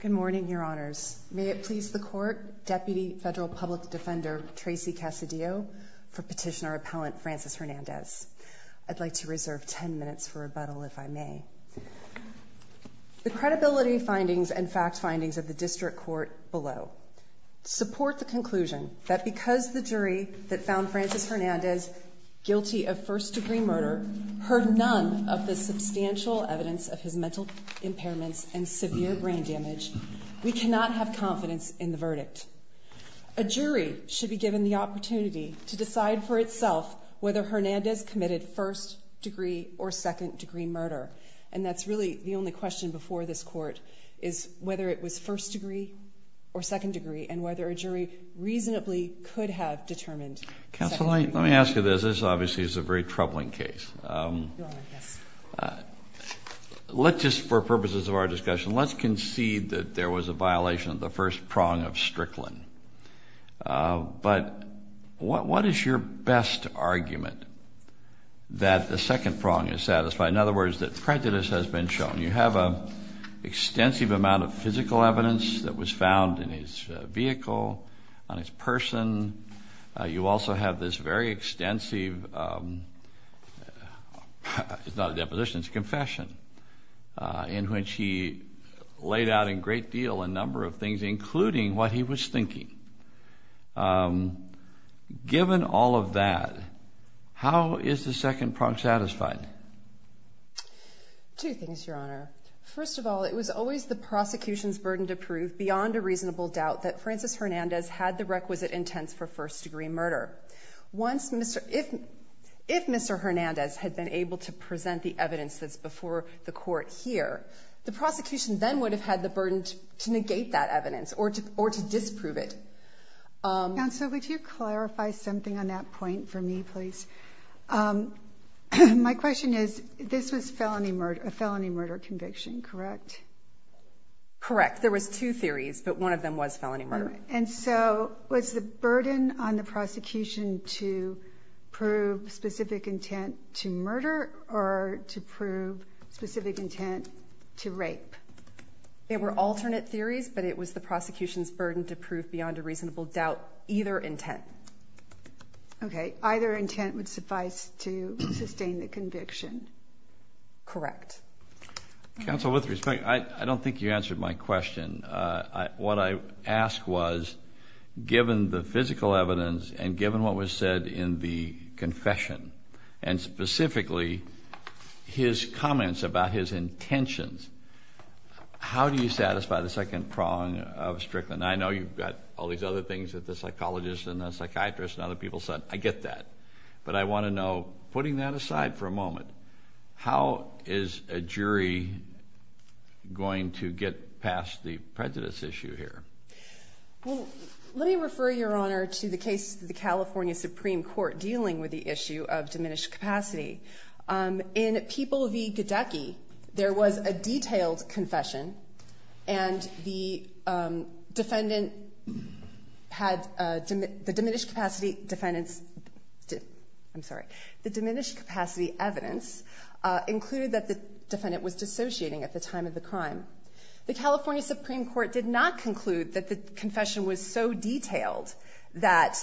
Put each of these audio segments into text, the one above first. Good morning, Your Honors. May it please the Court, Deputy Federal Public Defender Tracy Casadillo for Petitioner Appellant Francis Hernandez. I'd like to reserve ten minutes for rebuttal, if I may. The credibility findings and fact findings of the District Court below support the conclusion that because the jury that found Francis Hernandez guilty of first-degree murder heard none of the substantial evidence of his mental impairments and severe brain damage, we cannot have confidence in the verdict. A jury should be given the opportunity to decide for itself whether Hernandez committed first-degree or second-degree murder, and that's really the only question before this Court, is whether it was first-degree or second-degree, and whether a jury reasonably could have determined second-degree. Counsel, let me ask you this. This obviously is a very troubling case. Let's just, for purposes of our discussion, let's concede that there was a violation of the first prong of Strickland. But what is your best argument that the second prong is satisfied? In other words, that prejudice has been shown. You have an extensive amount of physical evidence that was found in his vehicle, on his person. You also have this very extensive, it's not a deposition, it's a confession, in which he laid out in great deal a number of things, including what he was thinking. Given all of that, how is the second prong satisfied? Two things, Your Honor. First of all, it was always the prosecution's burden to prove beyond a reasonable doubt that Francis Hernandez had the requisite intents for first-degree murder. If Mr. Hernandez had been able to present the evidence that's before the Court here, the prosecution then would have had the burden to negate that evidence or to disprove it. Counsel, would you clarify something on that point for me, please? My question is, this was a felony murder conviction, correct? Correct. There was two theories, but one of them was felony murder. And so, was the burden on the prosecution to prove specific intent to murder or to prove specific intent to rape? They were alternate theories, but it was the prosecution's burden to prove beyond a reasonable doubt either intent. Okay. Either intent would suffice to sustain the conviction? Correct. Counsel, with respect, I don't think you answered my question. What I asked was, given the physical evidence and given what was said in the confession, and specifically his comments about his intentions, how do you satisfy the second prong of Strickland? I know you've got all these other things that the psychologist and the psychiatrist and other people said. I get that. But I want to know, putting that aside for a moment, how is a jury going to get past the prejudice issue here? Well, let me refer Your Honor to the case of the California Supreme Court dealing with the issue of diminished capacity. In People v. Gidecki, there was a the diminished capacity evidence included that the defendant was dissociating at the time of the crime. The California Supreme Court did not conclude that the confession was so detailed that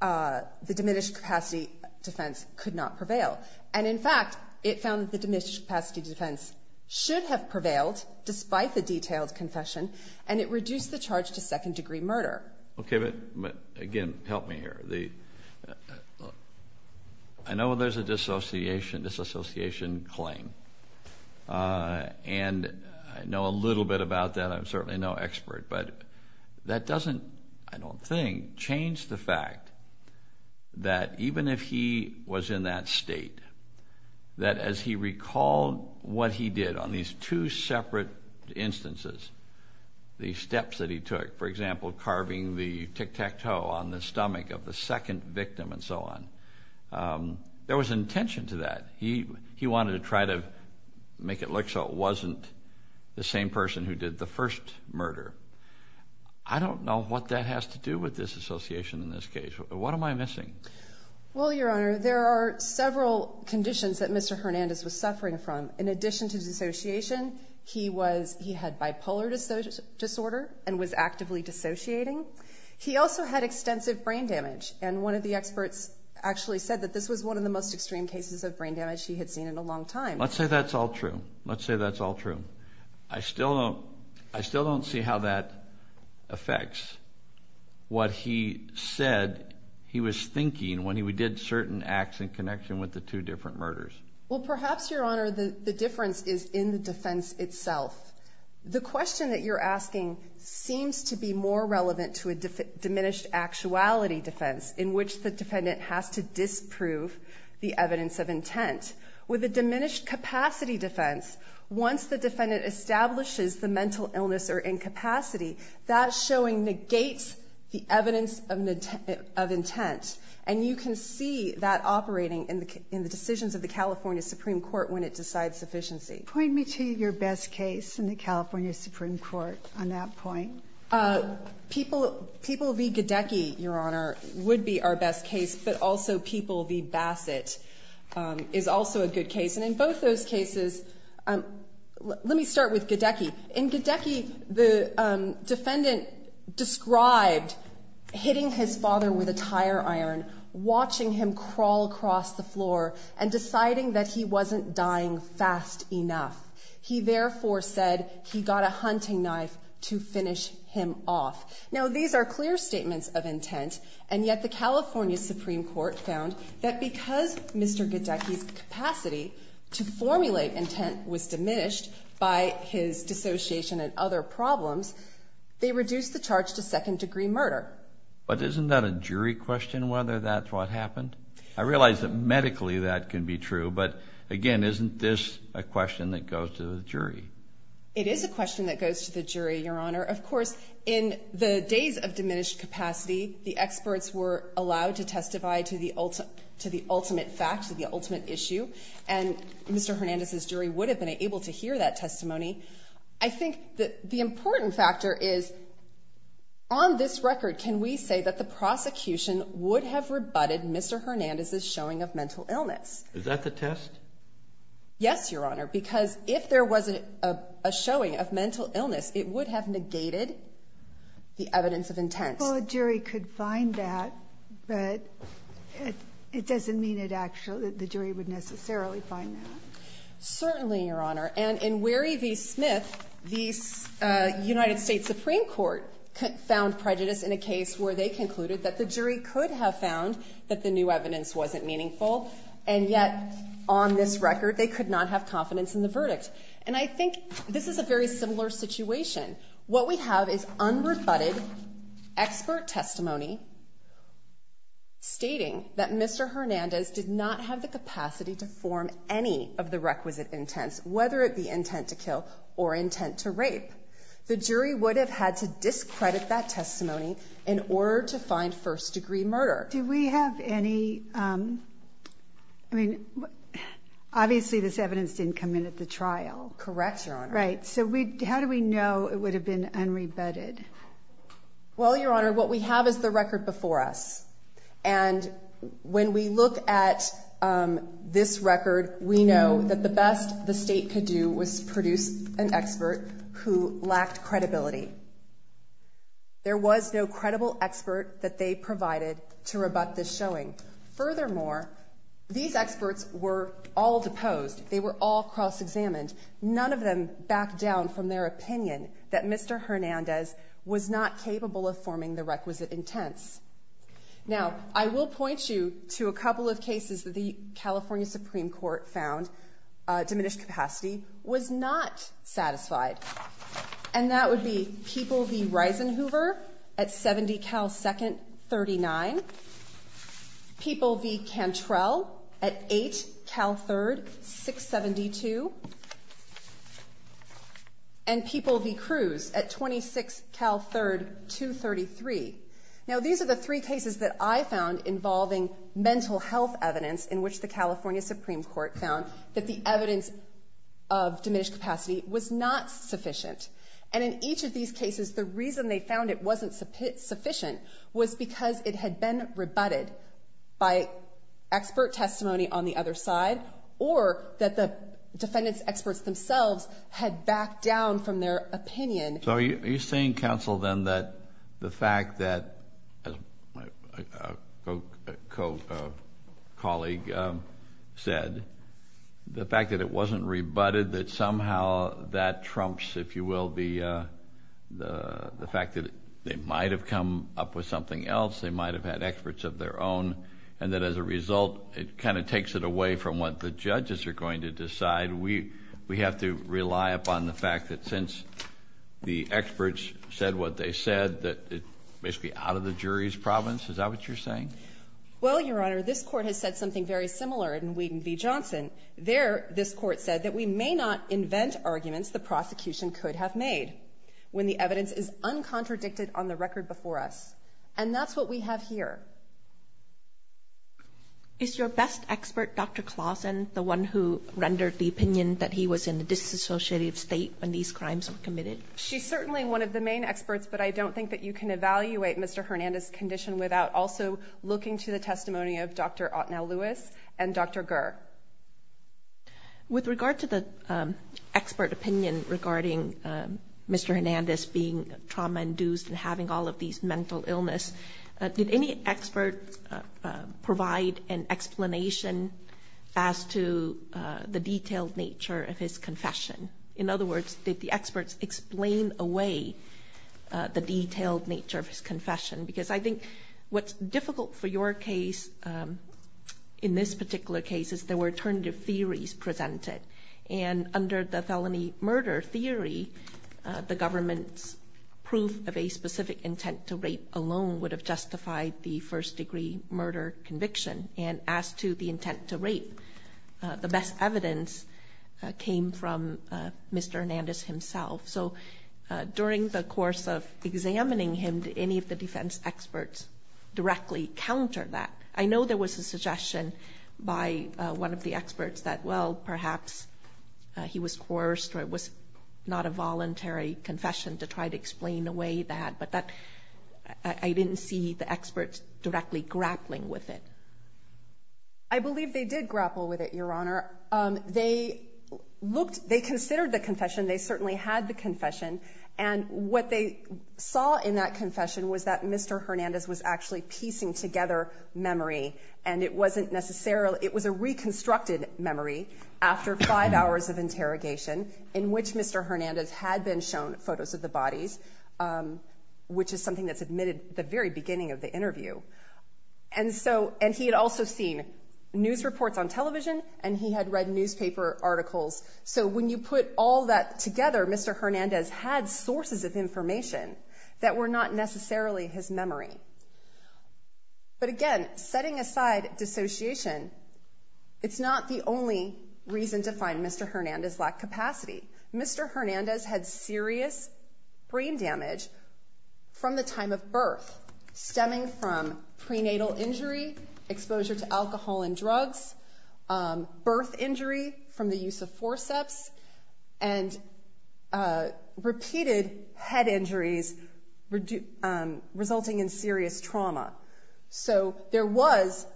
the diminished capacity defense could not prevail. And in fact, it found that the diminished capacity defense should have prevailed, despite the detailed confession, and it reduced the charge to second-degree murder. Okay, but again, help me here. I know there's a dissociation claim, and I know a little bit about that. I'm certainly no expert. But that doesn't, I don't think, change the fact that even if he was in that state, that as he recalled what he did on these two separate instances, the steps that he took, for example, carving the tic-tac-toe on the stomach of the second victim and so on, there was intention to that. He wanted to try to make it look so it wasn't the same person who did the first murder. I don't know what that has to do with dissociation in this case. What am I missing? Well, Your Honor, there are several conditions that Mr. Hernandez was suffering from. In particular, he had bipolar disorder and was actively dissociating. He also had extensive brain damage, and one of the experts actually said that this was one of the most extreme cases of brain damage he had seen in a long time. Let's say that's all true. Let's say that's all true. I still don't see how that affects what he said he was thinking when he did certain acts in connection with the two different murders. Well, the question that you're asking seems to be more relevant to a diminished actuality defense in which the defendant has to disprove the evidence of intent. With a diminished capacity defense, once the defendant establishes the mental illness or incapacity, that showing negates the evidence of intent. And you can see that operating in the decisions of the California Supreme Court when it decides sufficiency. Point me to your best case in the California Supreme Court on that point. People v. Gadecki, Your Honor, would be our best case, but also people v. Bassett is also a good case. And in both those cases, let me start with Gadecki. In Gadecki, the defendant described hitting his father with a tire iron, watching him dying fast enough. He therefore said he got a hunting knife to finish him off. Now, these are clear statements of intent. And yet the California Supreme Court found that because Mr. Gadecki's capacity to formulate intent was diminished by his dissociation and other problems, they reduced the And isn't this a question that goes to the jury? It is a question that goes to the jury, Your Honor. Of course, in the days of diminished capacity, the experts were allowed to testify to the ultimate fact, to the ultimate issue. And Mr. Hernandez's jury would have been able to hear that testimony. I think that the important factor is, on this record, can we say that the prosecution would have rebutted Mr. Hernandez's showing of mental illness? Is that the test? Yes, Your Honor, because if there was a showing of mental illness, it would have negated the evidence of intent. Well, a jury could find that, but it doesn't mean it actually, the jury would necessarily find that. Certainly, Your Honor. And in Wehry v. Smith, the United States Supreme Court found prejudice in a case where they concluded that the jury could have found that the new evidence wasn't meaningful. And yet, on this record, they could not have confidence in the verdict. And I think this is a very similar situation. What we have is unrebutted expert testimony stating that Mr. Hernandez did not have the capacity to form any of the requisite intents, whether it be intent to kill or intent to rape. The jury would have had to discredit that testimony in order to find first-degree murder. Do we have any, I mean, obviously this evidence didn't come in at the trial. Correct, Your Honor. Right, so how do we know it would have been unrebutted? Well, Your Honor, what we have is the record before us. And when we look at this record, we know that the best the State could do was produce an expert who lacked credibility. There was no credible expert that they provided to rebut this showing. Furthermore, these experts were all deposed. They were all cross-examined. None of them backed down from their opinion that Mr. Hernandez was not capable of forming the requisite intents. Now, I will point you to a couple of cases that the California Supreme Court found diminished capacity was not satisfied. And that would be People v. Reisenhoover at 70 Cal 2nd, 39. People v. Cantrell at 8 Cal 3rd, 672. And People v. Cruz at 26 Cal 3rd, 233. Now, these are the three cases that I found involving mental health evidence in which the California Supreme Court found that the evidence of diminished capacity was not sufficient. And in each of these cases, the reason they found it wasn't sufficient was because it had been rebutted by expert testimony on the other side or that the defendant's experts themselves had backed down from their opinion. So are you saying, counsel, then, that the fact that, as my co-colleague said, the fact that it wasn't rebutted, that somehow that trumps, if you will, the fact that they might have come up with something else. They might have had experts of their own. And that as a result, it kind of takes it away from what the judges are going to decide. Do we have to rely upon the fact that since the experts said what they said, that it's basically out of the jury's province? Is that what you're saying? Well, Your Honor, this Court has said something very similar in Wheaton v. Johnson. There, this Court said that we may not invent arguments the prosecution could have made when the evidence is uncontradicted on the record before us. And that's what we have here. Is your best expert, Dr. Clausen, the one who rendered the opinion that he was in a disassociative state when these crimes were committed? She's certainly one of the main experts, but I don't think that you can evaluate Mr. Hernandez's condition without also looking to the testimony of Dr. Otnell Lewis and Dr. Gurr. With regard to the expert opinion regarding Mr. Hernandez being trauma-induced and having all of these mental illness, did any expert provide an explanation as to the detailed nature of his confession? In other words, did the experts explain away the detailed nature of his confession? Because I think what's difficult for your case, in this particular case, is there were alternative theories presented. And under the felony murder theory, the government's proof of a specific intent to rape alone would have justified the first-degree murder conviction. And as to the intent to rape, the best evidence came from Mr. Hernandez himself. So during the course of examining him, did any of the defense experts directly counter that? I know there was a suggestion by one of the experts that, well, perhaps he was coerced or it was not a voluntary confession to try to explain away that. But that I didn't see the experts directly grappling with it. I believe they did grapple with it, Your Honor. They looked, they considered the confession. They certainly had the confession. And what they saw in that confession was that Mr. Hernandez was actually piecing together memory. And it wasn't necessarily, it was a reconstructed memory, after five hours of interrogation, in which Mr. Hernandez had been shown photos of the bodies, which is something that's admitted at the very beginning of the interview. And so, and he had also seen news reports on television, and he had read newspaper articles. So when you put all that together, Mr. Hernandez had sources of information that were not necessarily his memory. But again, setting aside dissociation, it's not the only reason to find Mr. Hernandez lacked capacity. Mr. Hernandez had serious brain damage from the time of birth, stemming from prenatal injury, exposure to alcohol and drugs, birth injury from the use of forceps, and repeated head injuries resulting in serious trauma. So there was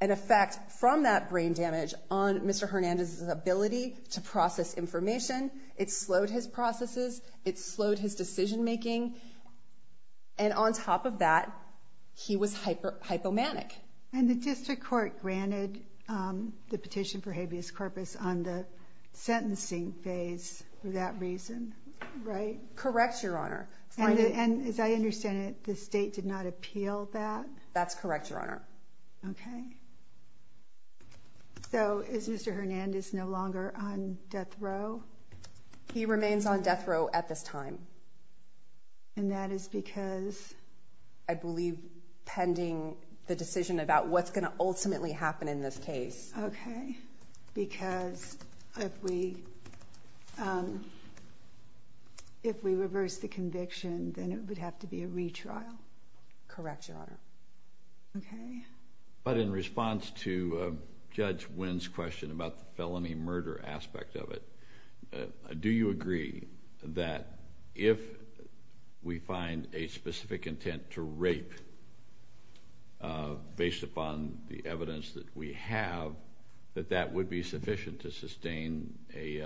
an effect from that brain damage on Mr. Hernandez's ability to process information. It slowed his processes. It slowed his decision making. And on top of that, he was hypomanic. And the district court granted the petition for habeas corpus on the sentencing phase for that reason, right? Correct, Your Honor. And as I understand it, the state did not appeal that? That's correct, Your Honor. Okay. So is Mr. Hernandez no longer on death row? He remains on death row at this time. And that is because? I believe pending the decision about what's going to ultimately happen in this case. Okay. Because if we reverse the conviction, then it would have to be a retrial? Correct, Your Honor. Okay. But in response to Judge Wynn's question about the felony murder aspect of it, do you agree that if we find a specific intent to rape based upon the evidence that we have, that that would be sufficient to sustain a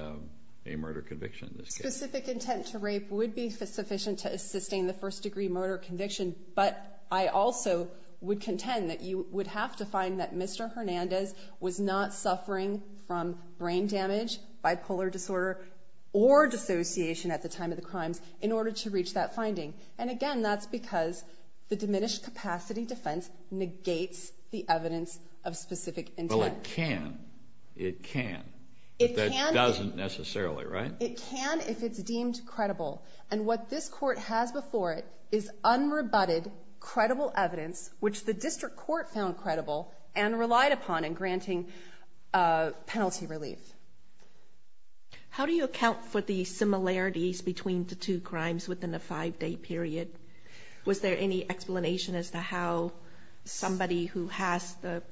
murder conviction in this case? Specific intent to rape would be sufficient to sustain the first degree murder conviction, but I also would contend that you would have to find that Mr. Hernandez was not suffering from brain damage, bipolar disorder, or dissociation at the time of the crimes in order to reach that finding. And again, that's because the diminished capacity defense negates the evidence of specific intent. Well, it can. It can. It can. But that doesn't necessarily, right? It can if it's deemed credible. And what this Court has before it is unrebutted, credible evidence, which the District Court found credible and relied upon in granting penalty relief. How do you account for the similarities between the two crimes within a five-day period? Was there any explanation as to how somebody who has the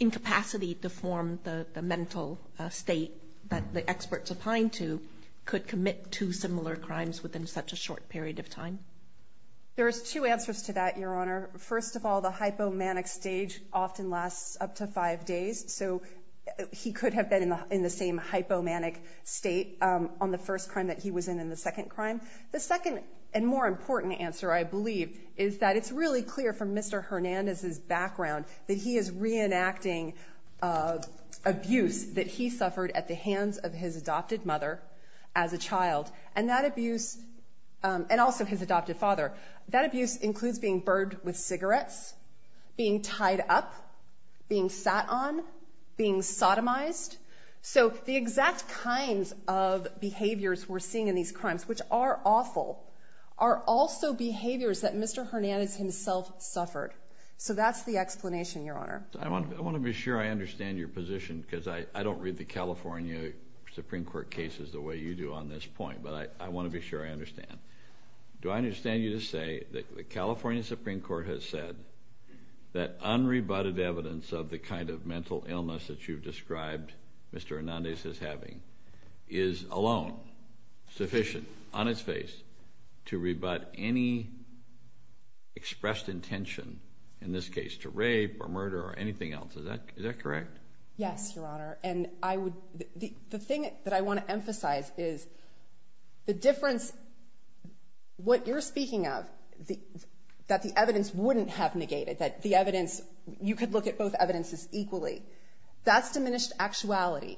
incapacity to form the mental state that the experts opined to could commit two similar crimes within such a short period of time? There's two answers to that, Your Honor. First of all, the hypomanic stage often lasts up to five days, so he could have been in the same hypomanic state on the first crime that he was in in the second crime. The second and more important answer, I believe, is that it's really clear from Mr. Hernandez's background that he is reenacting abuse that he suffered at the hands of his adopted mother as a child. And that abuse, and also his adopted father, that abuse includes being burbed with cigarettes, being tied up, being sat on, being sodomized. So the exact kinds of behaviors we're seeing in these crimes, which are awful, are also behaviors that Mr. Hernandez himself suffered. So that's the explanation, Your Honor. I want to be sure I understand your position, because I don't read the California Supreme Court cases the way you do on this point. But I want to be sure I understand. Do I understand you to say that the California Supreme Court has said that unrebutted evidence of the kind of mental illness that you've described Mr. Hernandez as having is alone, sufficient, on its face, to rebut any expressed intention, in this case, to rape or murder or anything else. Is that correct? Yes, Your Honor. And I would, the thing that I want to emphasize is the difference, what you're speaking of, that the evidence wouldn't have negated, that the evidence, you could look at both evidences equally. That's diminished actuality.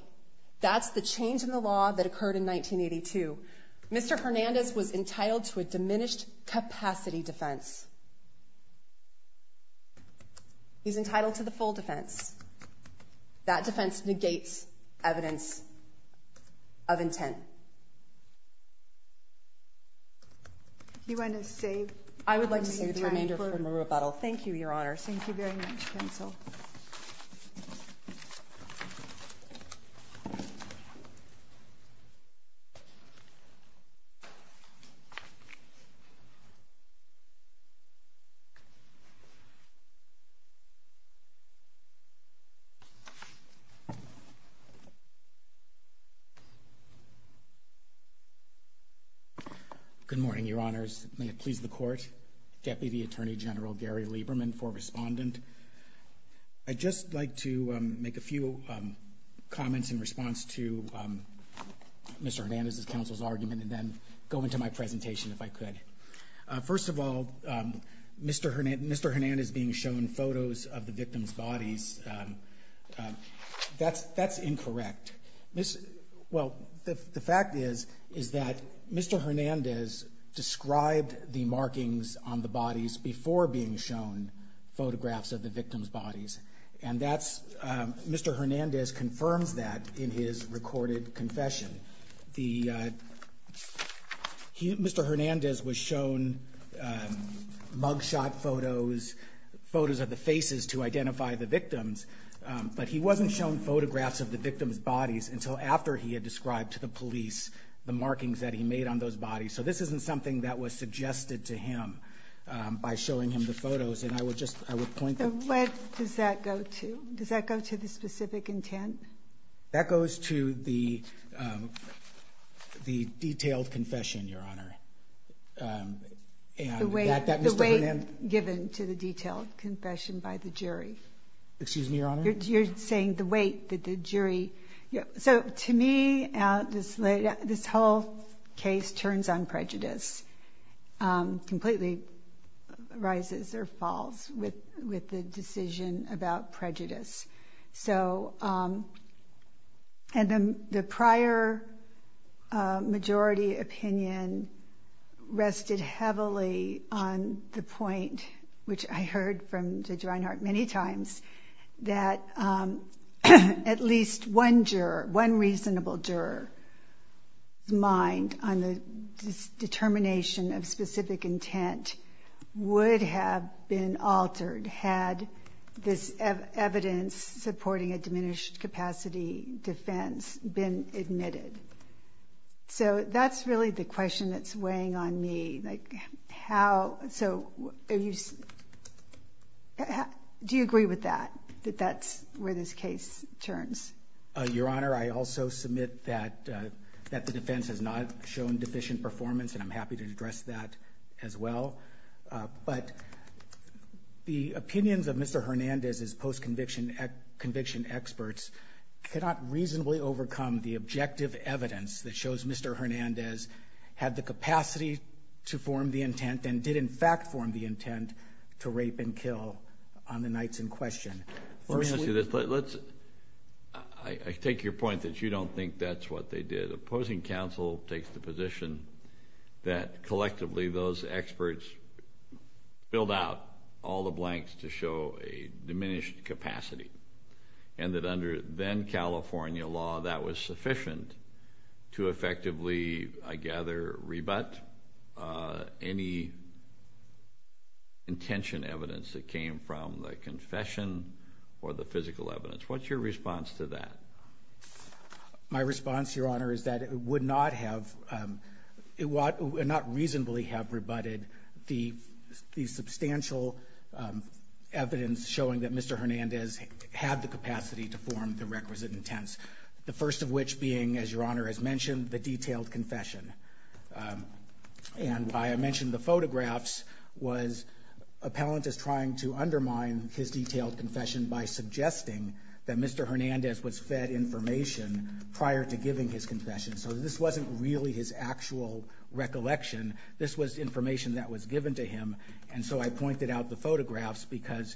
That's the change in the law that occurred in 1982. Mr. Hernandez was entitled to a diminished capacity defense. He's entitled to the full defense. That defense negates evidence of intent. Do you want to save time for me? I would like to save the remainder for a rebuttal. Thank you, Your Honor. Thank you very much, counsel. Good morning, Your Honors. May it please the Court. Deputy Attorney General Gary Lieberman for respondent. I'd just like to make a few comments in response to Mr. Hernandez's counsel's argument and then go into my presentation if I could. First of all, Mr. Hernandez being shown photos of the victim's bodies that's incorrect. Well, the fact is, is that Mr. Hernandez described the markings on the bodies before being shown photographs of the victim's bodies. And that's, Mr. Hernandez confirms that in his recorded confession. Mr. Hernandez was shown mug shot photos, photos of the faces to identify the victim. But he wasn't shown photographs of the victim's bodies until after he had described to the police the markings that he made on those bodies. So this isn't something that was suggested to him by showing him the photos. And I would just, I would point out. What does that go to? Does that go to the specific intent? That goes to the detailed confession, Your Honor. The way given to the detailed confession by the jury. Excuse me, Your Honor. You're saying the weight that the jury. So to me, this whole case turns on prejudice. Completely rises or falls with the decision about prejudice. So, and the prior majority opinion rested heavily on the point, which I heard from Judge Reinhart many times, that at least one juror, one reasonable juror's mind on the determination of specific intent would have been altered had this evidence supporting a diminished capacity defense been admitted. So that's really the question that's weighing on me. Like how, so do you agree with that? That that's where this case turns? Your Honor, I also submit that the defense has not shown deficient performance and I'm happy to address that as well. But the opinions of Mr. Hernandez's post-conviction experts cannot reasonably overcome the objective evidence that shows Mr. Hernandez had the capacity to form the intent and did in fact form the intent to rape and kill on the nights in question. First, let's, I take your point that you don't think that's what they did. Opposing counsel takes the position that collectively those experts filled out all the blanks to show a diminished capacity. And that under then-California law that was sufficient to effectively, I gather, rebut any intention evidence that came from the confession or the physical evidence. What's your response to that? My response, Your Honor, is that it would not have, it would not reasonably have rebutted the substantial evidence showing that Mr. Hernandez had the capacity to form the requisite intents. The first of which being, as Your Honor has mentioned, the detailed confession. And by I mentioned the photographs was appellant is trying to undermine his detailed confession by suggesting that Mr. Hernandez was fed information prior to giving his confession. So this wasn't really his actual recollection. This was information that was given to him. And so I pointed out the photographs because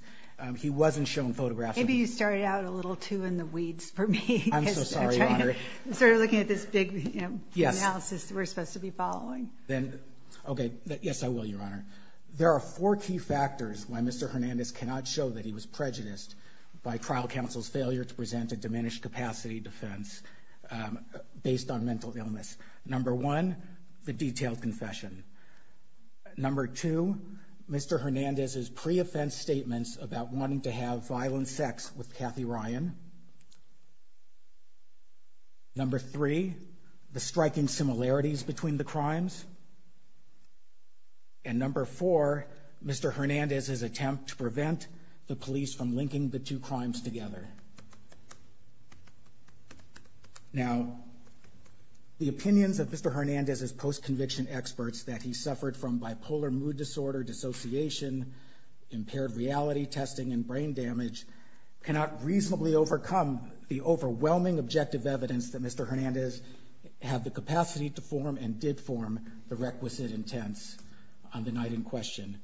he wasn't shown photographs. Maybe you started out a little too in the weeds for me. I'm so sorry, Your Honor. I'm sort of looking at this big analysis that we're supposed to be following. Then, okay, yes I will, Your Honor. There are four key factors why Mr. Hernandez cannot show that he was prejudiced by trial counsel's failure to present a diminished capacity defense based on mental illness. Number one, the detailed confession. Number two, Mr. Hernandez's pre-offense statements about wanting to have violent sex with Kathy Ryan. Number three, the striking similarities between the crimes. And number four, Mr. Hernandez's attempt to prevent the police from linking the two crimes together. Now, the opinions of Mr. Hernandez's post-conviction experts that he suffered from bipolar mood disorder, dissociation, impaired reality testing, and brain damage cannot reasonably overcome the overwhelming objective evidence that Mr. Hernandez had the capacity to form and did form the requisite intents on the night in question.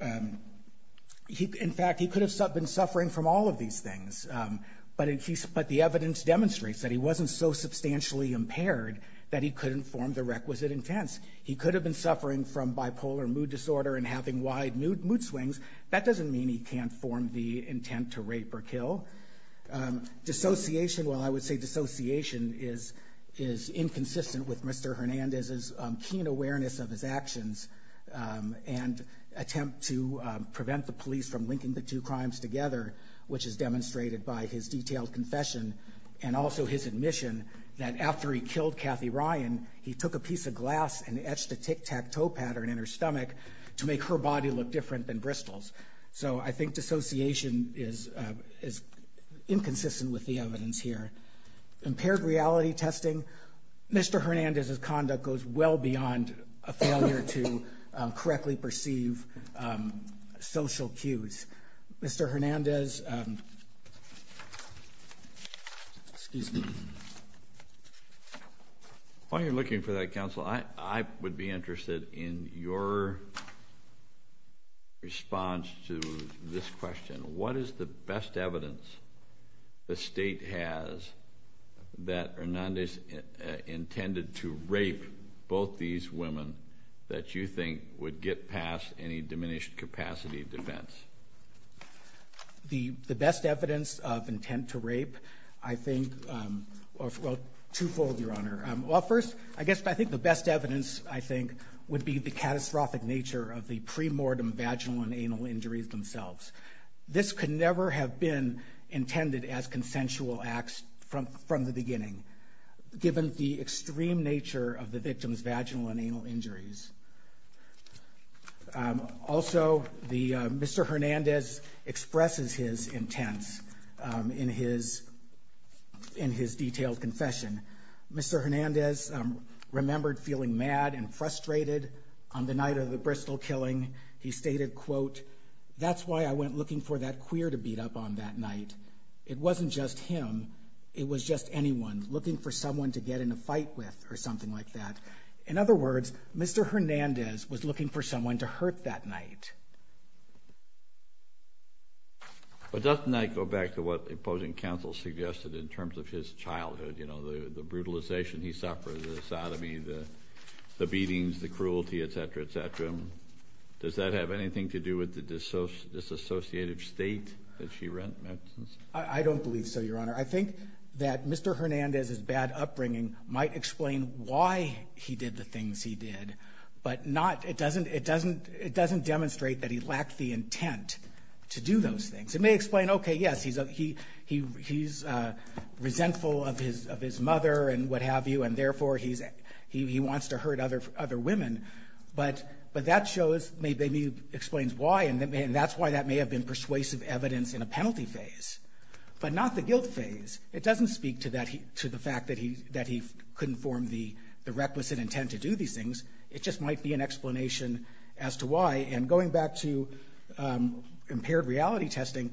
But the evidence demonstrates that he wasn't so substantially impaired that he couldn't form the requisite intents. He could have been suffering from bipolar mood disorder and having wide mood swings. That doesn't mean he can't form the intent to rape or kill. Dissociation, while I would say dissociation, is inconsistent with Mr. Hernandez's keen awareness of his actions and attempt to prevent the police from linking the two crimes together which is demonstrated by his detailed confession and also his admission that after he killed Kathy Ryan he took a piece of glass and etched a tic-tac-toe pattern in her stomach to make her body look different than Bristol's. So I think dissociation is inconsistent with the evidence here. Impaired reality testing, Mr. Hernandez's conduct goes well beyond a failure to correctly perceive social cues. Mr. Hernandez, excuse me. While you're looking for that counsel, I would be interested in your response to this question. What is the best evidence the state has that Hernandez intended to rape both these women that you think would get past any diminished capacity defense? The best evidence of intent to rape, I think, well, twofold, Your Honor. Well, first, I guess I think the best evidence, I think, would be the catastrophic nature of the pre-mortem vaginal and anal injuries themselves. This could never have been intended as consensual acts from the beginning given the extreme nature of the victim's vaginal and anal injuries. Also, Mr. Hernandez expresses his intents in his detailed confession. Mr. Hernandez remembered feeling mad and frustrated on the night of the Bristol killing. He stated, quote, That's why I went looking for that queer to beat up on that night. It wasn't just him. It was just anyone looking for someone to get in a fight with or something like that. In other words, Mr. Hernandez was looking for someone to hurt that night. But doesn't that go back to what the opposing counsel suggested in terms of his childhood, you know, the brutalization he suffered, the sodomy, the beatings, the cruelty, etc., etc.? Does that have anything to do with the disassociative state that she read? I don't believe so, Your Honor. I think that Mr. Hernandez's bad upbringing might explain why he did the things he did, but it doesn't demonstrate that he lacked the intent to do those things. It may explain, okay, yes, he's resentful of his mother and what have you, and therefore he wants to hurt other women. But that shows, maybe explains why, and that's why that may have been persuasive evidence in a penalty phase, but not the guilt phase. It doesn't speak to the fact that he couldn't form the requisite intent to do these things. It just might be an explanation as to why. And going back to impaired reality testing,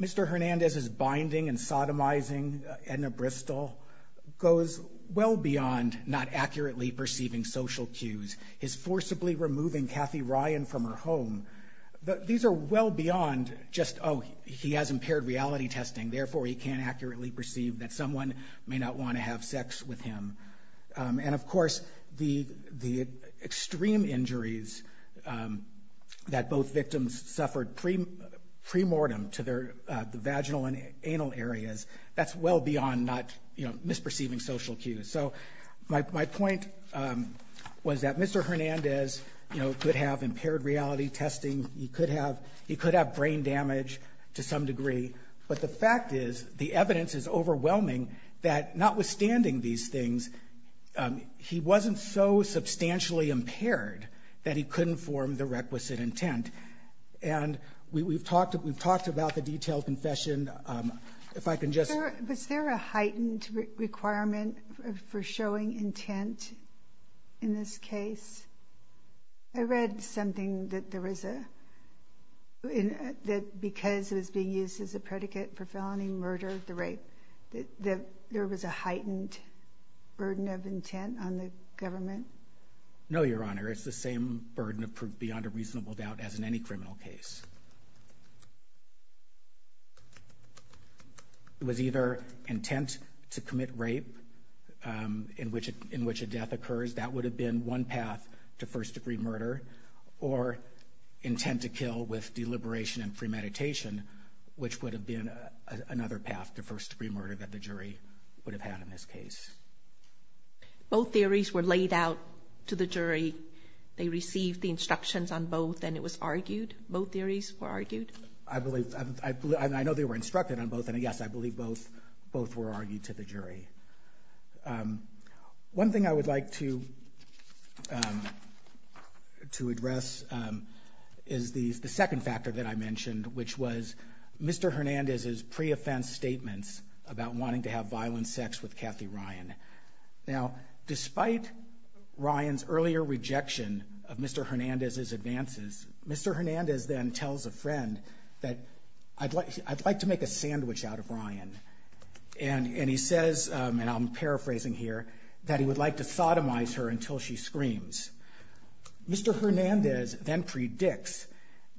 Mr. Hernandez's binding and sodomizing Edna Bristol goes well beyond not accurately perceiving social cues. His forcibly removing Kathy Ryan from her home, these are well beyond just, oh, he has impaired reality testing, therefore he can't accurately perceive that someone may not want to have sex with him. And, of course, the extreme injuries that both victims suffered premortem to the vaginal and anal areas, that's well beyond misperceiving social cues. So my point was that Mr. Hernandez could have impaired reality testing, he could have brain damage to some degree, but the fact is the evidence is overwhelming that notwithstanding these things, he wasn't so substantially impaired that he couldn't form the requisite intent. And we've talked about the detailed confession. If I can just... Is there a heightened requirement for showing intent in this case? I read something that there was a... that because it was being used as a predicate for felony murder, the rape, that there was a heightened burden of intent on the government. No, Your Honor, it's the same burden of proof beyond a reasonable doubt as in any criminal case. It was either intent to commit rape in which a death occurs, that would have been one path to first-degree murder, or intent to kill with deliberation and premeditation, which would have been another path to first-degree murder that the jury would have had in this case. Both theories were laid out to the jury. They received the instructions on both, and it was argued, both theories were argued? I know they were instructed on both, and yes, I believe both were argued to the jury. One thing I would like to address is the second factor that I mentioned, which was Mr. Hernandez's pre-offense statements about wanting to have violent sex with Kathy Ryan. Now, despite Ryan's earlier rejection of Mr. Hernandez's advances, Mr. Hernandez then tells a friend that, I'd like to make a sandwich out of Ryan, and he says, and I'm paraphrasing here, that he would like to sodomize her until she screams. Mr. Hernandez then predicts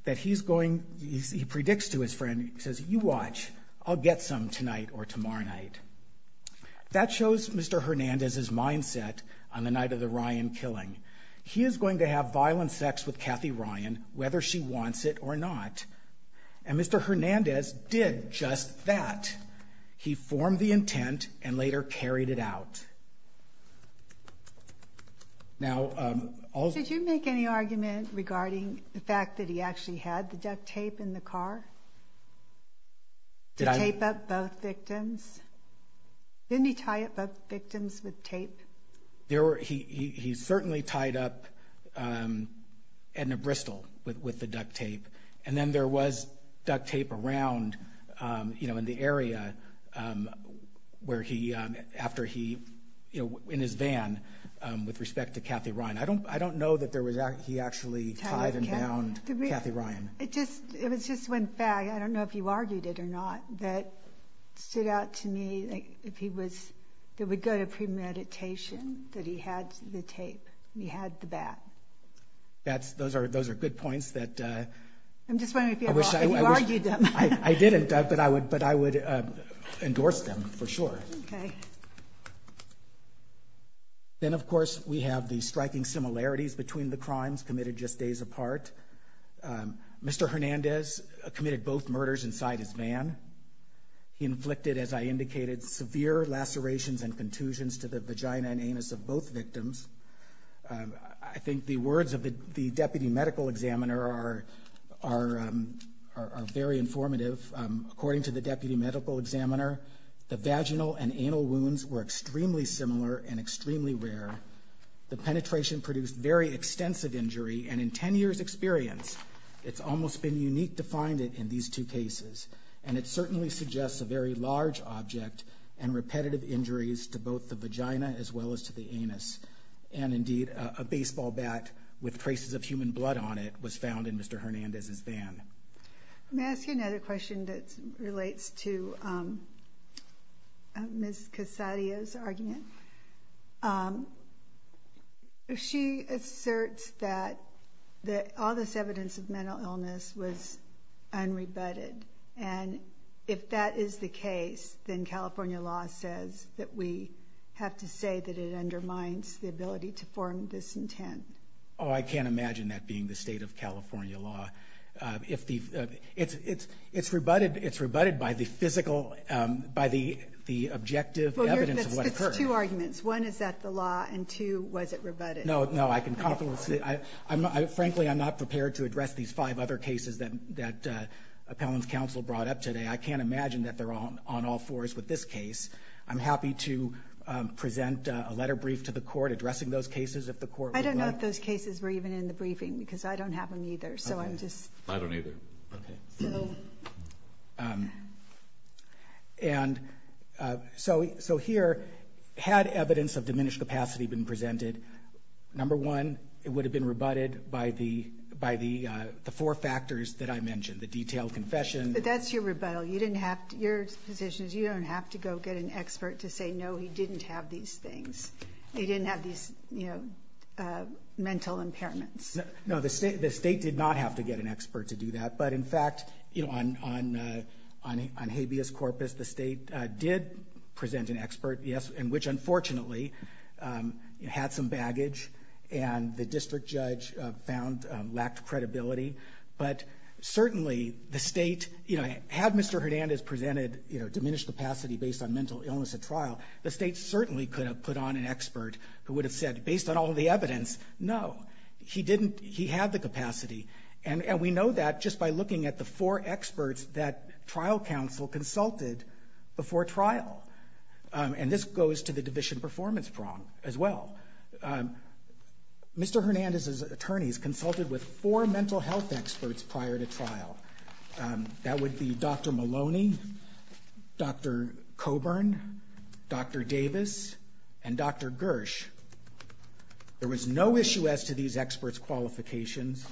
that he's going, he predicts to his friend, he says, you watch, I'll get some tonight or tomorrow night. That shows Mr. Hernandez's mindset on the night of the Ryan killing. He is going to have violent sex with Kathy Ryan, whether she wants it or not, and Mr. Hernandez did just that. He formed the intent and later carried it out. Did you make any argument regarding the fact that he actually had the duct tape in the car to tape up both victims? Didn't he tie up both victims with tape? He certainly tied up Edna Bristol with the duct tape, and then there was duct tape around in the area where he, after he, in his van with respect to Kathy Ryan. I don't know that he actually tied and bound Kathy Ryan. It was just one fact, I don't know if you argued it or not, that stood out to me, like if he was, that would go to premeditation, that he had the tape, and he had the bat. Those are good points that... I'm just wondering if you argued them. I didn't, but I would endorse them for sure. Okay. Then, of course, we have the striking similarities between the crimes committed just days apart. Mr. Hernandez committed both murders inside his van. He inflicted, as I indicated, severe lacerations and contusions to the vagina and anus of both victims. I think the words of the deputy medical examiner are very informative. According to the deputy medical examiner, the vaginal and anal wounds were extremely similar and extremely rare. The penetration produced very extensive injury, and in 10 years' experience, it's almost been unique to find it in these two cases. And it certainly suggests a very large object and repetitive injuries to both the vagina as well as to the anus. And indeed, a baseball bat with traces of human blood on it was found in Mr. Hernandez's van. May I ask you another question that relates to Ms. Casadio's argument? She asserts that all this evidence of mental illness was unrebutted, and if that is the case, then California law says that we have to say that it undermines the ability to form this intent. Oh, I can't imagine that being the state of California law. It's rebutted by the physical, by the objective evidence of what occurred. It's two arguments. One is that the law, and two, was it rebutted? No, no, I can confidently say, frankly, I'm not prepared to address these five other cases that Appellant's counsel brought up today. I can't imagine that they're on all fours with this case. I'm happy to present a letter brief to the court addressing those cases if the court would like. I don't know if those cases were even in the briefing because I don't have them either, so I'm just... I don't either. Okay. And so here, had evidence of diminished capacity been presented, number one, it would have been rebutted by the four factors that I mentioned, the detailed confession... But that's your rebuttal. Your position is you don't have to go get an expert to say, no, he didn't have these things. He didn't have these, you know, mental impairments. No, the state did not have to get an expert to do that, but in fact, you know, on habeas corpus, the state did present an expert, yes, and which unfortunately had some baggage, and the district judge found lacked credibility. But certainly the state, you know, had Mr. Hernandez presented, you know, diminished capacity based on mental illness at trial, the state certainly could have put on an expert who would have said, based on all the evidence, no. He didn't... He had the capacity. And we know that just by looking at the four experts that trial counsel consulted before trial. And this goes to the division performance problem as well. Mr. Hernandez's attorneys consulted with four mental health experts prior to trial. That would be Dr. Maloney, Dr. Coburn, Dr. Davis, and Dr. Gersh. There was no issue as to these experts' qualifications.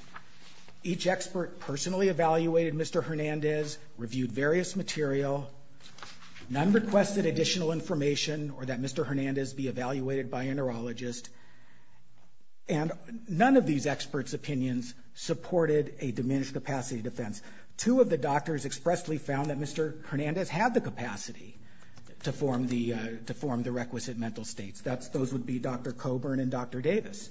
Each expert personally evaluated Mr. Hernandez, reviewed various material. None requested additional information or that Mr. Hernandez be evaluated by a neurologist. And none of these experts' opinions supported a diminished capacity defense. Two of the doctors expressly found that Mr. Hernandez had the capacity to form the requisite mental states. Those would be Dr. Coburn and Dr. Davis.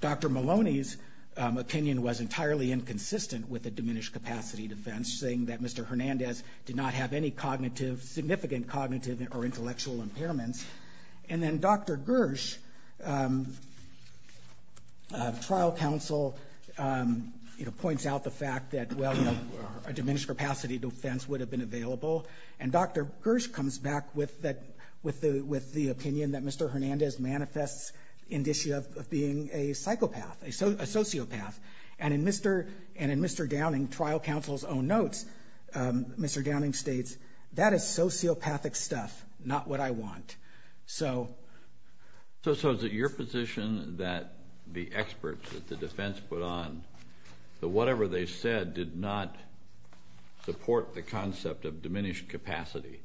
Dr. Maloney's opinion was entirely inconsistent with a diminished capacity defense, saying that Mr. Hernandez did not have any cognitive, significant cognitive or intellectual impairments. And then Dr. Gersh, trial counsel, points out the fact that, well, a diminished capacity defense would have been available. And Dr. Gersh comes back with the opinion that Mr. Hernandez manifests an issue of being a psychopath, a sociopath. And in Mr. Downing, trial counsel's own notes, Mr. Downing states, that is sociopathic stuff, not what I want. So... So is it your position that the experts, that the defense put on, that whatever they said did not support the concept of diminished capacity,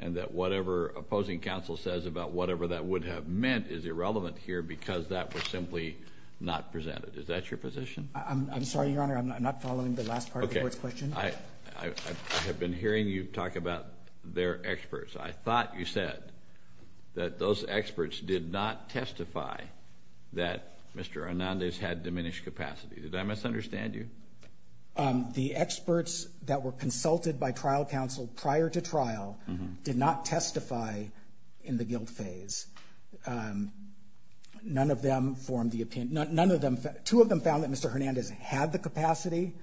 and that whatever opposing counsel says about whatever that would have meant is irrelevant here because that was simply not presented? Is that your position? I'm sorry, Your Honor, I'm not following the last part of the Court's question. Okay. I have been hearing you talk about their experts. I thought you said that those experts did not testify that Mr. Hernandez had diminished capacity. Did I misunderstand you? The experts that were consulted by trial counsel prior to trial did not testify in the guilt phase. None of them formed the opinion. None of them. Two of them found that Mr. Hernandez had the capacity.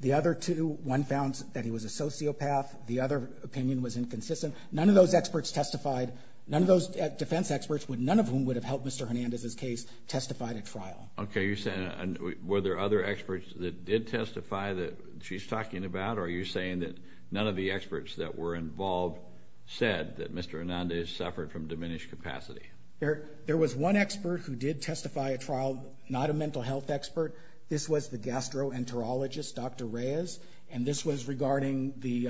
The other two, one found that he was a sociopath. The other opinion was inconsistent. None of those experts testified. None of those defense experts, none of whom would have helped Mr. Hernandez's case, testified at trial. Okay. Were there other experts that did testify that she's talking about, or are you saying that none of the experts that were involved said that Mr. Hernandez suffered from diminished capacity? There was one expert who did testify at trial, not a mental health expert. This was the gastroenterologist, Dr. Reyes, and this was regarding the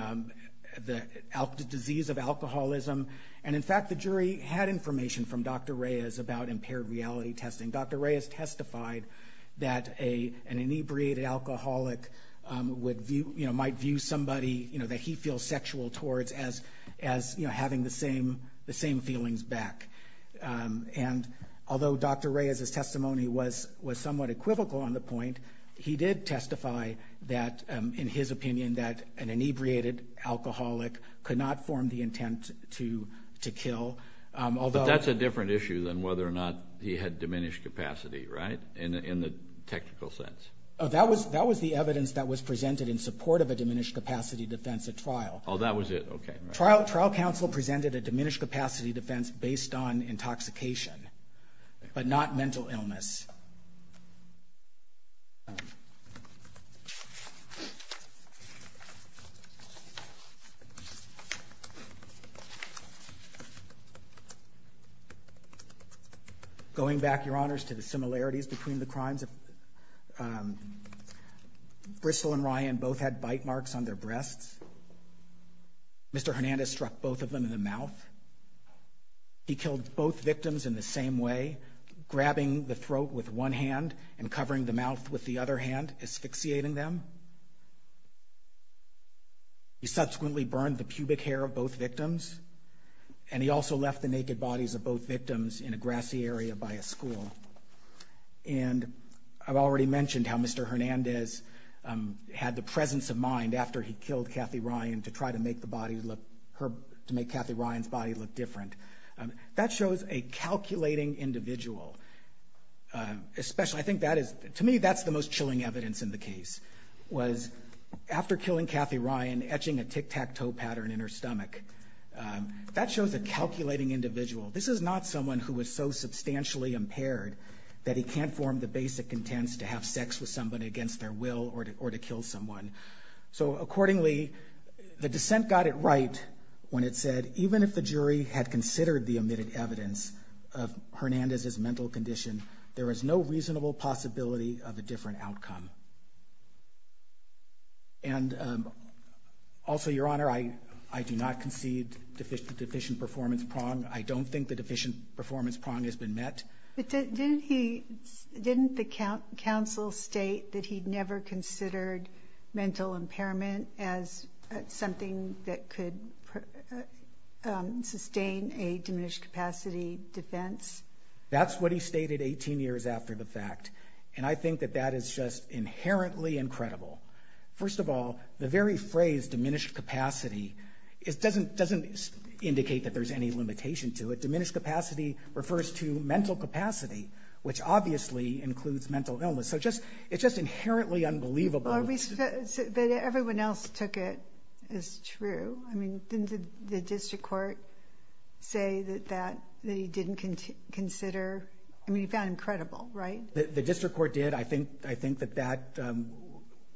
disease of alcoholism. And, in fact, the jury had information from Dr. Reyes about impaired reality testing. Dr. Reyes testified that an inebriated alcoholic might view somebody that he feels sexual towards as having the same feelings back. And although Dr. Reyes's testimony was somewhat equivocal on the point, he did testify that, in his opinion, that an inebriated alcoholic could not form the intent to kill. But that's a different issue than whether or not he had diminished capacity, right? In the technical sense. That was the evidence that was presented in support of a diminished capacity defense at trial. Oh, that was it? Okay. Trial counsel presented a diminished capacity defense based on intoxication, but not mental illness. Going back, Your Honors, to the similarities between the crimes, Bristol and Ryan both had bite marks on their breasts. Mr. Hernandez struck both of them in the mouth. He killed both victims in the same way, grabbing the throat with one hand and covering the mouth with the other hand, asphyxiating them. He subsequently burned the pubic hair of both victims, and he also left the naked bodies of both victims in a grassy area by a school. And I've already mentioned how Mr. Hernandez had the presence of mind after he killed Kathy Ryan to try to make the body look, to make Kathy Ryan's body look different. That shows a calculating individual. Especially, I think that is, to me, that's the most chilling evidence in the case, was after killing Kathy Ryan, etching a tic-tac-toe pattern in her stomach. That shows a calculating individual. This is not someone who was so substantially impaired that he can't form the basic intents to have sex with somebody against their will or to kill someone. So accordingly, the dissent got it right when it said, even if the jury had considered the omitted evidence of Hernandez's mental condition, there is no reasonable possibility of a different outcome. And also, Your Honor, I do not concede the deficient performance prong. I don't think the deficient performance prong has been met. But didn't the counsel state that he'd never considered mental impairment as something that could sustain a diminished capacity defense? That's what he stated 18 years after the fact. And I think that that is just inherently incredible. First of all, the very phrase, diminished capacity, doesn't indicate that there's any limitation to it. Diminished capacity refers to mental capacity, which obviously includes mental illness. So it's just inherently unbelievable. But everyone else took it as true. I mean, didn't the district court say that he didn't consider? I mean, he found him credible, right? The district court did. I think that that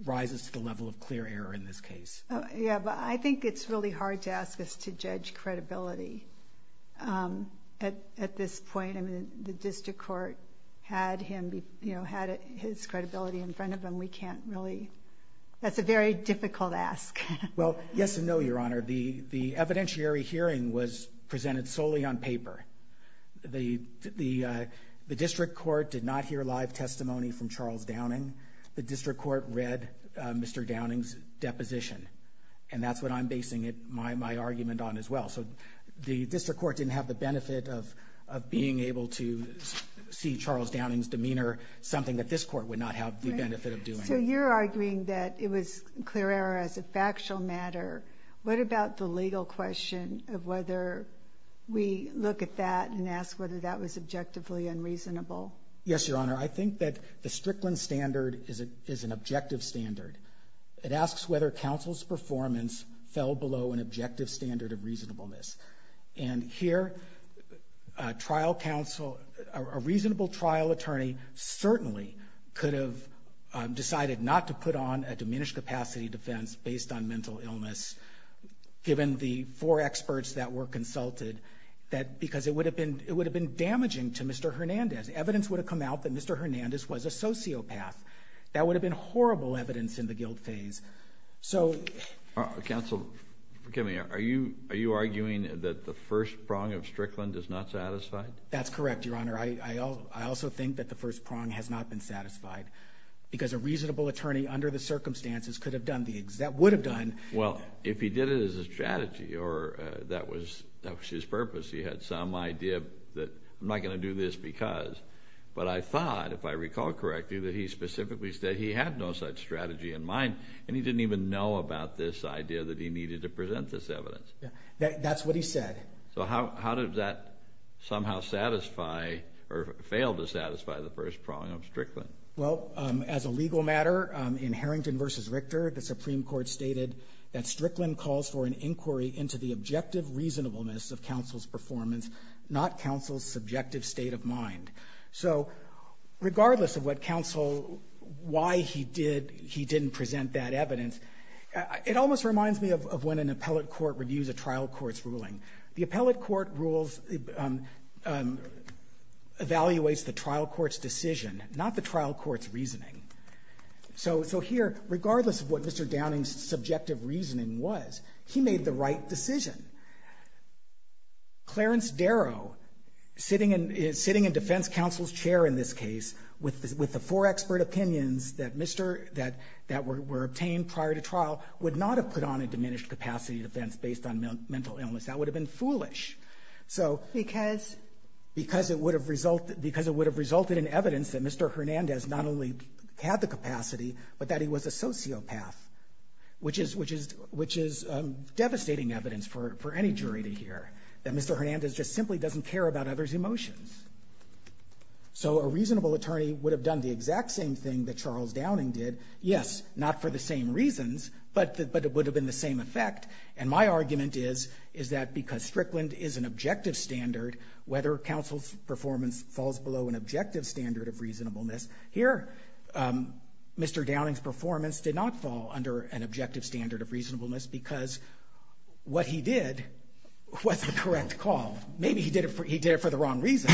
rises to the level of clear error in this case. Yeah, but I think it's really hard to ask us to judge credibility at this point. I mean, the district court had his credibility in front of him. We can't really. That's a very difficult ask. Well, yes and no, Your Honor. The evidentiary hearing was presented solely on paper. The district court did not hear live testimony from Charles Downing. The district court read Mr. Downing's deposition. And that's what I'm basing my argument on as well. So the district court didn't have the benefit of being able to see Charles Downing's demeanor, something that this court would not have the benefit of doing. So you're arguing that it was clear error as a factual matter. What about the legal question of whether we look at that and ask whether that was objectively unreasonable? Yes, Your Honor. I think that the Strickland standard is an objective standard. It asks whether counsel's performance fell below an objective standard of reasonableness. And here a trial counsel, a reasonable trial attorney, certainly could have decided not to put on a diminished capacity defense based on mental illness, given the four experts that were consulted, because it would have been damaging to Mr. Hernandez. Evidence would have come out that Mr. Hernandez was a sociopath. That would have been horrible evidence in the guilt phase. Counsel, forgive me, are you arguing that the first prong of Strickland is not satisfied? That's correct, Your Honor. I also think that the first prong has not been satisfied because a reasonable attorney under the circumstances could have done the exact, would have done. Well, if he did it as a strategy or that was his purpose, he had some idea that I'm not going to do this because. But I thought, if I recall correctly, that he specifically said he had no such strategy in mind and he didn't even know about this idea that he needed to present this evidence. That's what he said. So how did that somehow satisfy or fail to satisfy the first prong of Strickland? Well, as a legal matter, in Harrington v. Richter, the Supreme Court stated that Strickland calls for an inquiry into the objective reasonableness of counsel's performance, not counsel's subjective state of mind. So regardless of what counsel, why he did, he didn't present that evidence, it almost reminds me of when an appellate court reviews a trial court's ruling. The appellate court rules, evaluates the trial court's decision, not the trial court's reasoning. So here, regardless of what Mr. Downing's subjective reasoning was, he made the right decision. Clarence Darrow, sitting in defense counsel's chair in this case, with the four expert opinions that were obtained prior to trial, would not have put on a diminished capacity defense based on mental illness. That would have been foolish. Because? Because it would have resulted in evidence that Mr. Hernandez not only had the capacity, but that he was a sociopath. Which is devastating evidence for any jury to hear. That Mr. Hernandez just simply doesn't care about others' emotions. So a reasonable attorney would have done the exact same thing that Charles Downing did. Yes, not for the same reasons, but it would have been the same effect. And my argument is, is that because Strickland is an objective standard, whether counsel's performance falls below an objective standard of reasonableness, here, Mr. Downing's performance did not fall under an objective standard of reasonableness because what he did was the correct call. Maybe he did it for the wrong reason,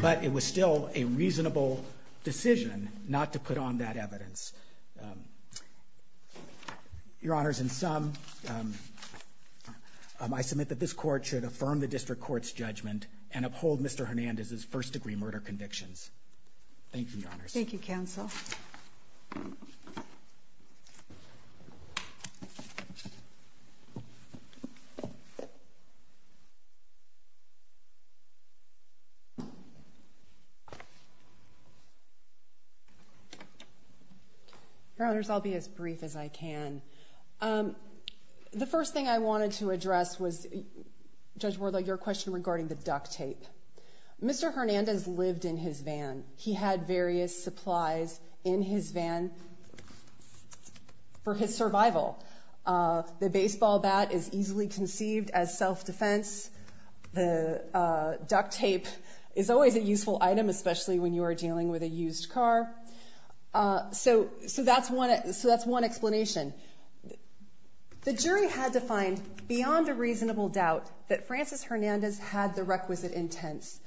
but it was still a reasonable decision not to put on that evidence. Your Honors, in sum, I submit that this Court should affirm the district court's judgment and uphold Mr. Hernandez's first-degree murder convictions. Thank you, Your Honors. Thank you, counsel. Your Honors, I'll be as brief as I can. The first thing I wanted to address was, Judge Wardlow, your question regarding the duct tape. Mr. Hernandez lived in his van. He had various supplies in his van for his survival. The baseball bat is easily conceived as self-defense. The duct tape is always a useful item, especially when you are dealing with a used car. So that's one explanation. The jury had to find, beyond a reasonable doubt, that Francis Hernandez had the requisite intents.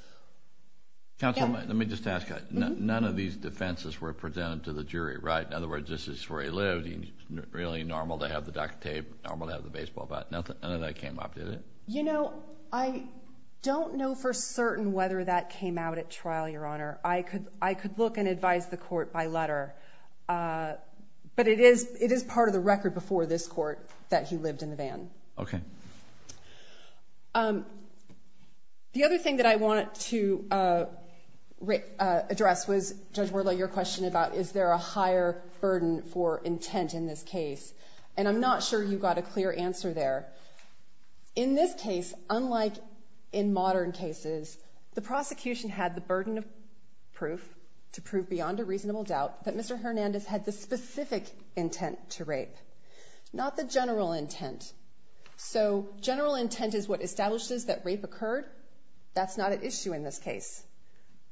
Counsel, let me just ask. None of these defenses were presented to the jury, right? In other words, this is where he lived. It's really normal to have the duct tape, normal to have the baseball bat. None of that came up, did it? You know, I don't know for certain whether that came out at trial, Your Honor. I could look and advise the Court by letter. But it is part of the record before this Court that he lived in the van. Okay. The other thing that I wanted to address was, Judge Wardlow, your question about, is there a higher burden for intent in this case? And I'm not sure you got a clear answer there. In this case, unlike in modern cases, the prosecution had the burden of proof to prove, beyond a reasonable doubt, that Mr. Hernandez had the specific intent to rape, not the general intent. So general intent is what establishes that rape occurred. That's not at issue in this case.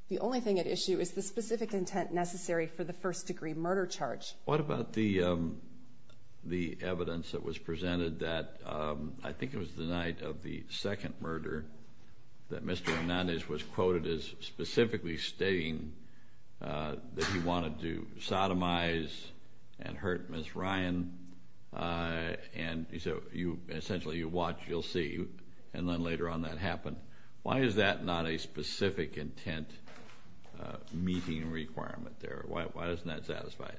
The only thing at issue is the specific intent necessary for the first-degree murder charge. What about the evidence that was presented that, I think it was the night of the second murder, that Mr. Hernandez was quoted as specifically stating that he wanted to sodomize and hurt Ms. Ryan. And he said, essentially, you watch, you'll see. And then later on that happened. Why is that not a specific intent meeting requirement there? Why isn't that satisfied?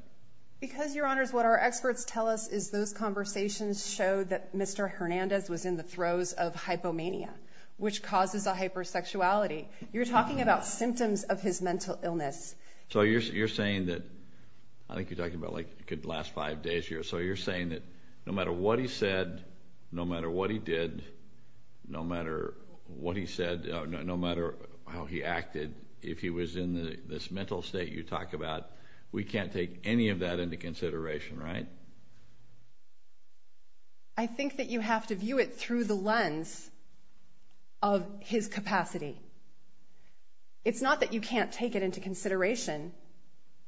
Because, Your Honors, what our experts tell us is those conversations show that Mr. Hernandez was in the throes of hypomania. Which causes a hypersexuality. You're talking about symptoms of his mental illness. So you're saying that, I think you're talking about like the last five days here. So you're saying that no matter what he said, no matter what he did, no matter what he said, no matter how he acted, if he was in this mental state you talk about, we can't take any of that into consideration, right? I think that you have to view it through the lens of his capacity. It's not that you can't take it into consideration.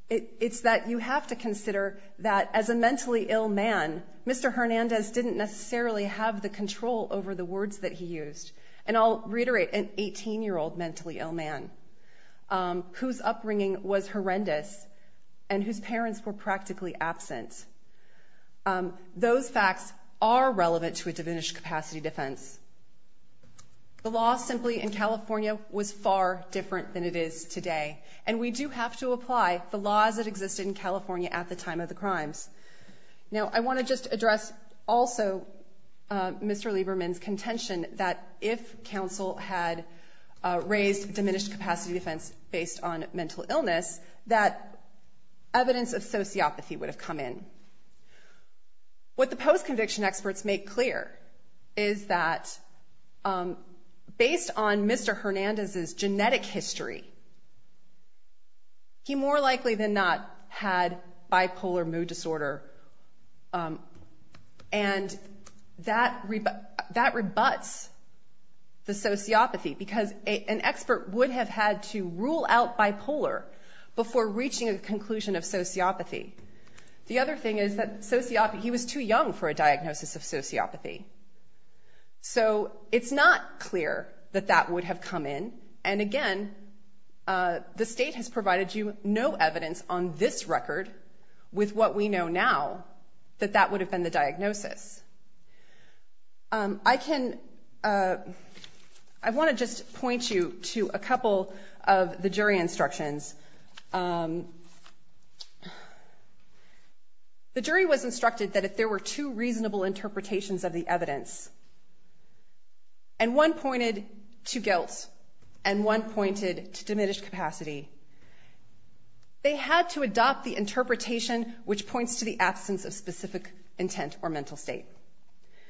It's that you have to consider that as a mentally ill man, Mr. Hernandez didn't necessarily have the control over the words that he used. And I'll reiterate, an 18-year-old mentally ill man whose upbringing was horrendous and whose parents were practically absent. Those facts are relevant to a diminished capacity defense. The law simply in California was far different than it is today. And we do have to apply the laws that existed in California at the time of the crimes. Now, I want to just address also Mr. Lieberman's contention that if counsel had raised a diminished capacity defense based on mental illness, that evidence of sociopathy would have come in. What the post-conviction experts make clear is that based on Mr. Hernandez's genetic history, he more likely than not had bipolar mood disorder. And that rebuts the sociopathy because an expert would have had to rule out bipolar before reaching a conclusion of sociopathy. The other thing is that he was too young for a diagnosis of sociopathy. So it's not clear that that would have come in. And again, the state has provided you no evidence on this record with what we know now that that would have been the diagnosis. I want to just point you to a couple of the jury instructions. The jury was instructed that if there were two reasonable interpretations of the evidence, and one pointed to guilt and one pointed to diminished capacity, they had to adopt the interpretation which points to the absence of specific intent or mental state.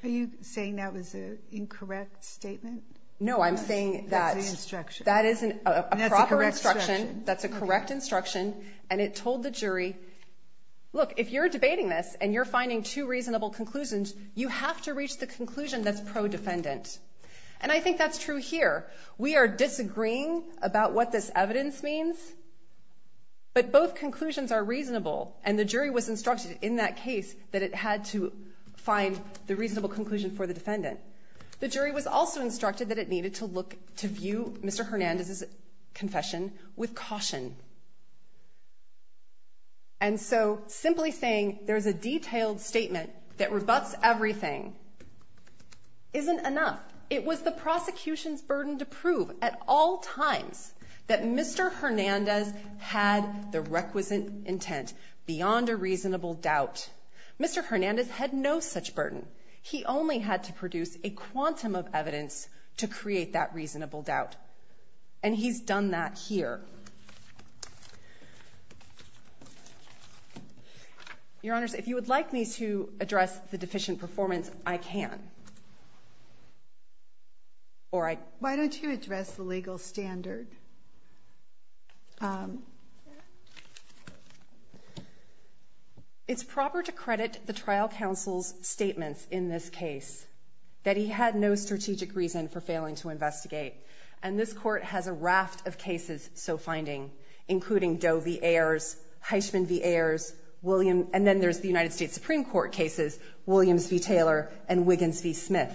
Are you saying that was an incorrect statement? No, I'm saying that is a proper instruction. That's a correct instruction. And it told the jury, look, if you're debating this and you're finding two reasonable conclusions, you have to reach the conclusion that's pro-defendant. And I think that's true here. We are disagreeing about what this evidence means, but both conclusions are reasonable, and the jury was instructed in that case that it had to find the reasonable conclusion for the defendant. The jury was also instructed that it needed to look to view Mr. Hernandez's confession with caution. And so simply saying there's a detailed statement that rebuts everything isn't enough. It was the prosecution's burden to prove at all times that Mr. Hernandez had the requisite intent beyond a reasonable doubt. Mr. Hernandez had no such burden. He only had to produce a quantum of evidence to create that reasonable doubt, and he's done that here. Your Honors, if you would like me to address the deficient performance, I can. Why don't you address the legal standard? It's proper to credit the trial counsel's statements in this case, that he had no strategic reason for failing to investigate. And this Court has a raft of cases so finding, including Doe v. Ayers, Heisman v. Ayers, and then there's the United States Supreme Court cases, Williams v. Taylor, and Wiggins v. Smith.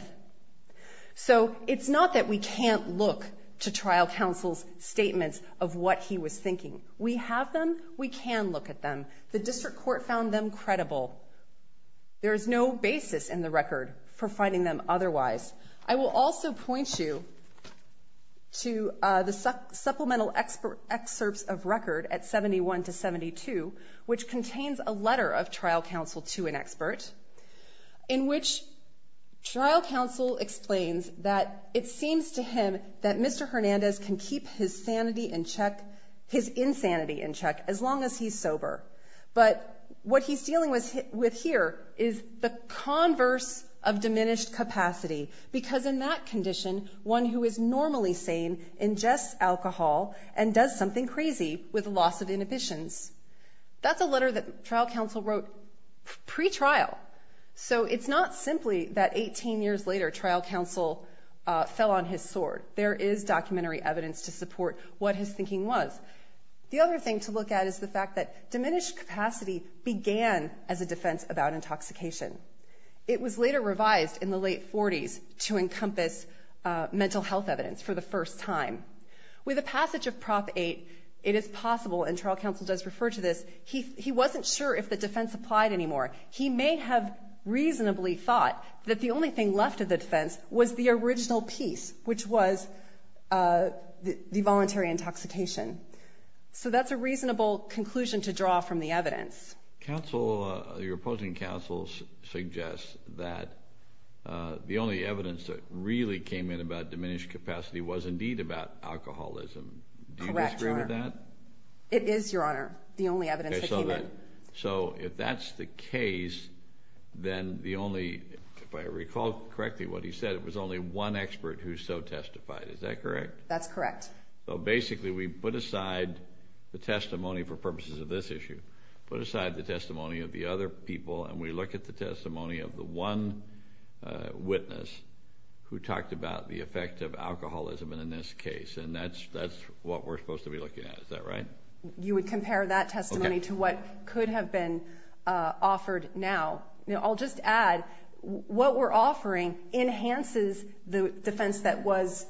So it's not that we can't look to trial counsel's statements of what he was thinking. We have them. We can look at them. The district court found them credible. There is no basis in the record for finding them otherwise. I will also point you to the supplemental excerpts of record at 71 to 72, which contains a letter of trial counsel to an expert, in which trial counsel explains that it seems to him that Mr. Hernandez can keep his sanity in check, his insanity in check, as long as he's sober. But what he's dealing with here is the converse of diminished capacity, because in that condition one who is normally sane ingests alcohol and does something crazy with loss of inhibitions. That's a letter that trial counsel wrote pre-trial. So it's not simply that 18 years later trial counsel fell on his sword. There is documentary evidence to support what his thinking was. The other thing to look at is the fact that diminished capacity began as a defense about intoxication. It was later revised in the late 40s to encompass mental health evidence for the first time. With the passage of Prop 8, it is possible, and trial counsel does refer to this, he wasn't sure if the defense applied anymore. He may have reasonably thought that the only thing left of the defense was the original piece, which was the voluntary intoxication. So that's a reasonable conclusion to draw from the evidence. Your opposing counsel suggests that the only evidence that really came in about diminished capacity was indeed about alcoholism. Correct, Your Honor. Do you disagree with that? It is, Your Honor, the only evidence that came in. So if that's the case, then the only, if I recall correctly what he said, it was only one expert who so testified. Is that correct? That's correct. So basically we put aside the testimony for purposes of this issue, put aside the testimony of the other people, and we look at the testimony of the one witness who talked about the effect of alcoholism in this case. And that's what we're supposed to be looking at. Is that right? You would compare that testimony to what could have been offered now. I'll just add, what we're offering enhances the defense that was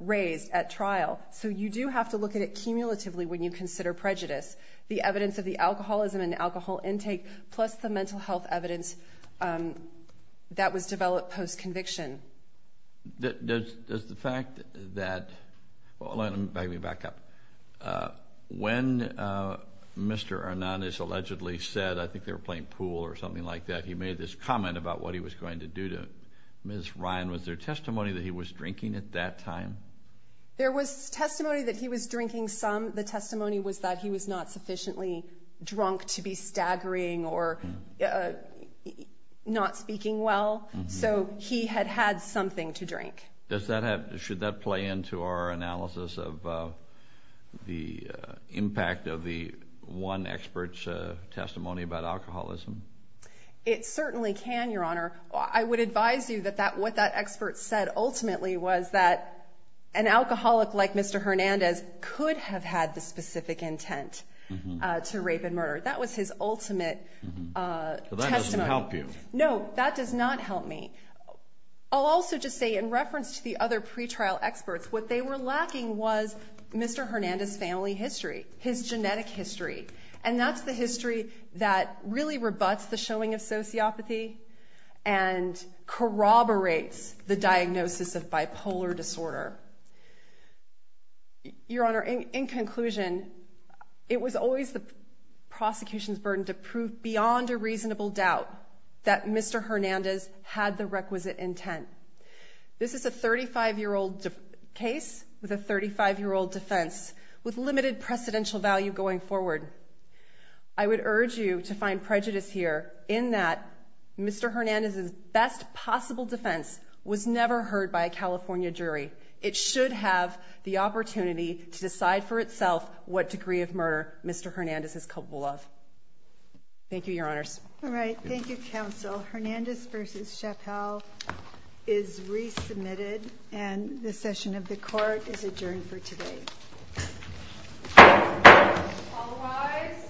raised at trial. So you do have to look at it cumulatively when you consider prejudice. The evidence of the alcoholism and alcohol intake plus the mental health evidence that was developed post-conviction. Does the fact that, well, let me back up. When Mr. Arnon is allegedly said, I think they were playing pool or something like that, he made this comment about what he was going to do to Ms. Ryan. Was there testimony that he was drinking at that time? There was testimony that he was drinking some. The testimony was that he was not sufficiently drunk to be staggering or not speaking well. So he had had something to drink. Should that play into our analysis of the impact of the one expert's testimony about alcoholism? It certainly can, Your Honor. I would advise you that what that expert said ultimately was that an alcoholic like Mr. Hernandez could have had the specific intent to rape and murder. That was his ultimate testimony. So that doesn't help you. No, that does not help me. I'll also just say in reference to the other pretrial experts, what they were lacking was Mr. Hernandez's family history, his genetic history. And that's the history that really rebuts the showing of sociopathy and corroborates the diagnosis of bipolar disorder. Your Honor, in conclusion, it was always the prosecution's burden to prove beyond a reasonable doubt that Mr. Hernandez had the requisite intent. This is a 35-year-old case with a 35-year-old defense with limited precedential value going forward. I would urge you to find prejudice here in that Mr. Hernandez's best possible defense was never heard by a California jury. It should have the opportunity to decide for itself what degree of murder Mr. Hernandez is culpable of. Thank you, Your Honors. All right. Thank you, Counsel. Hernandez v. Chappell is resubmitted, and the session of the Court is adjourned for today. All rise.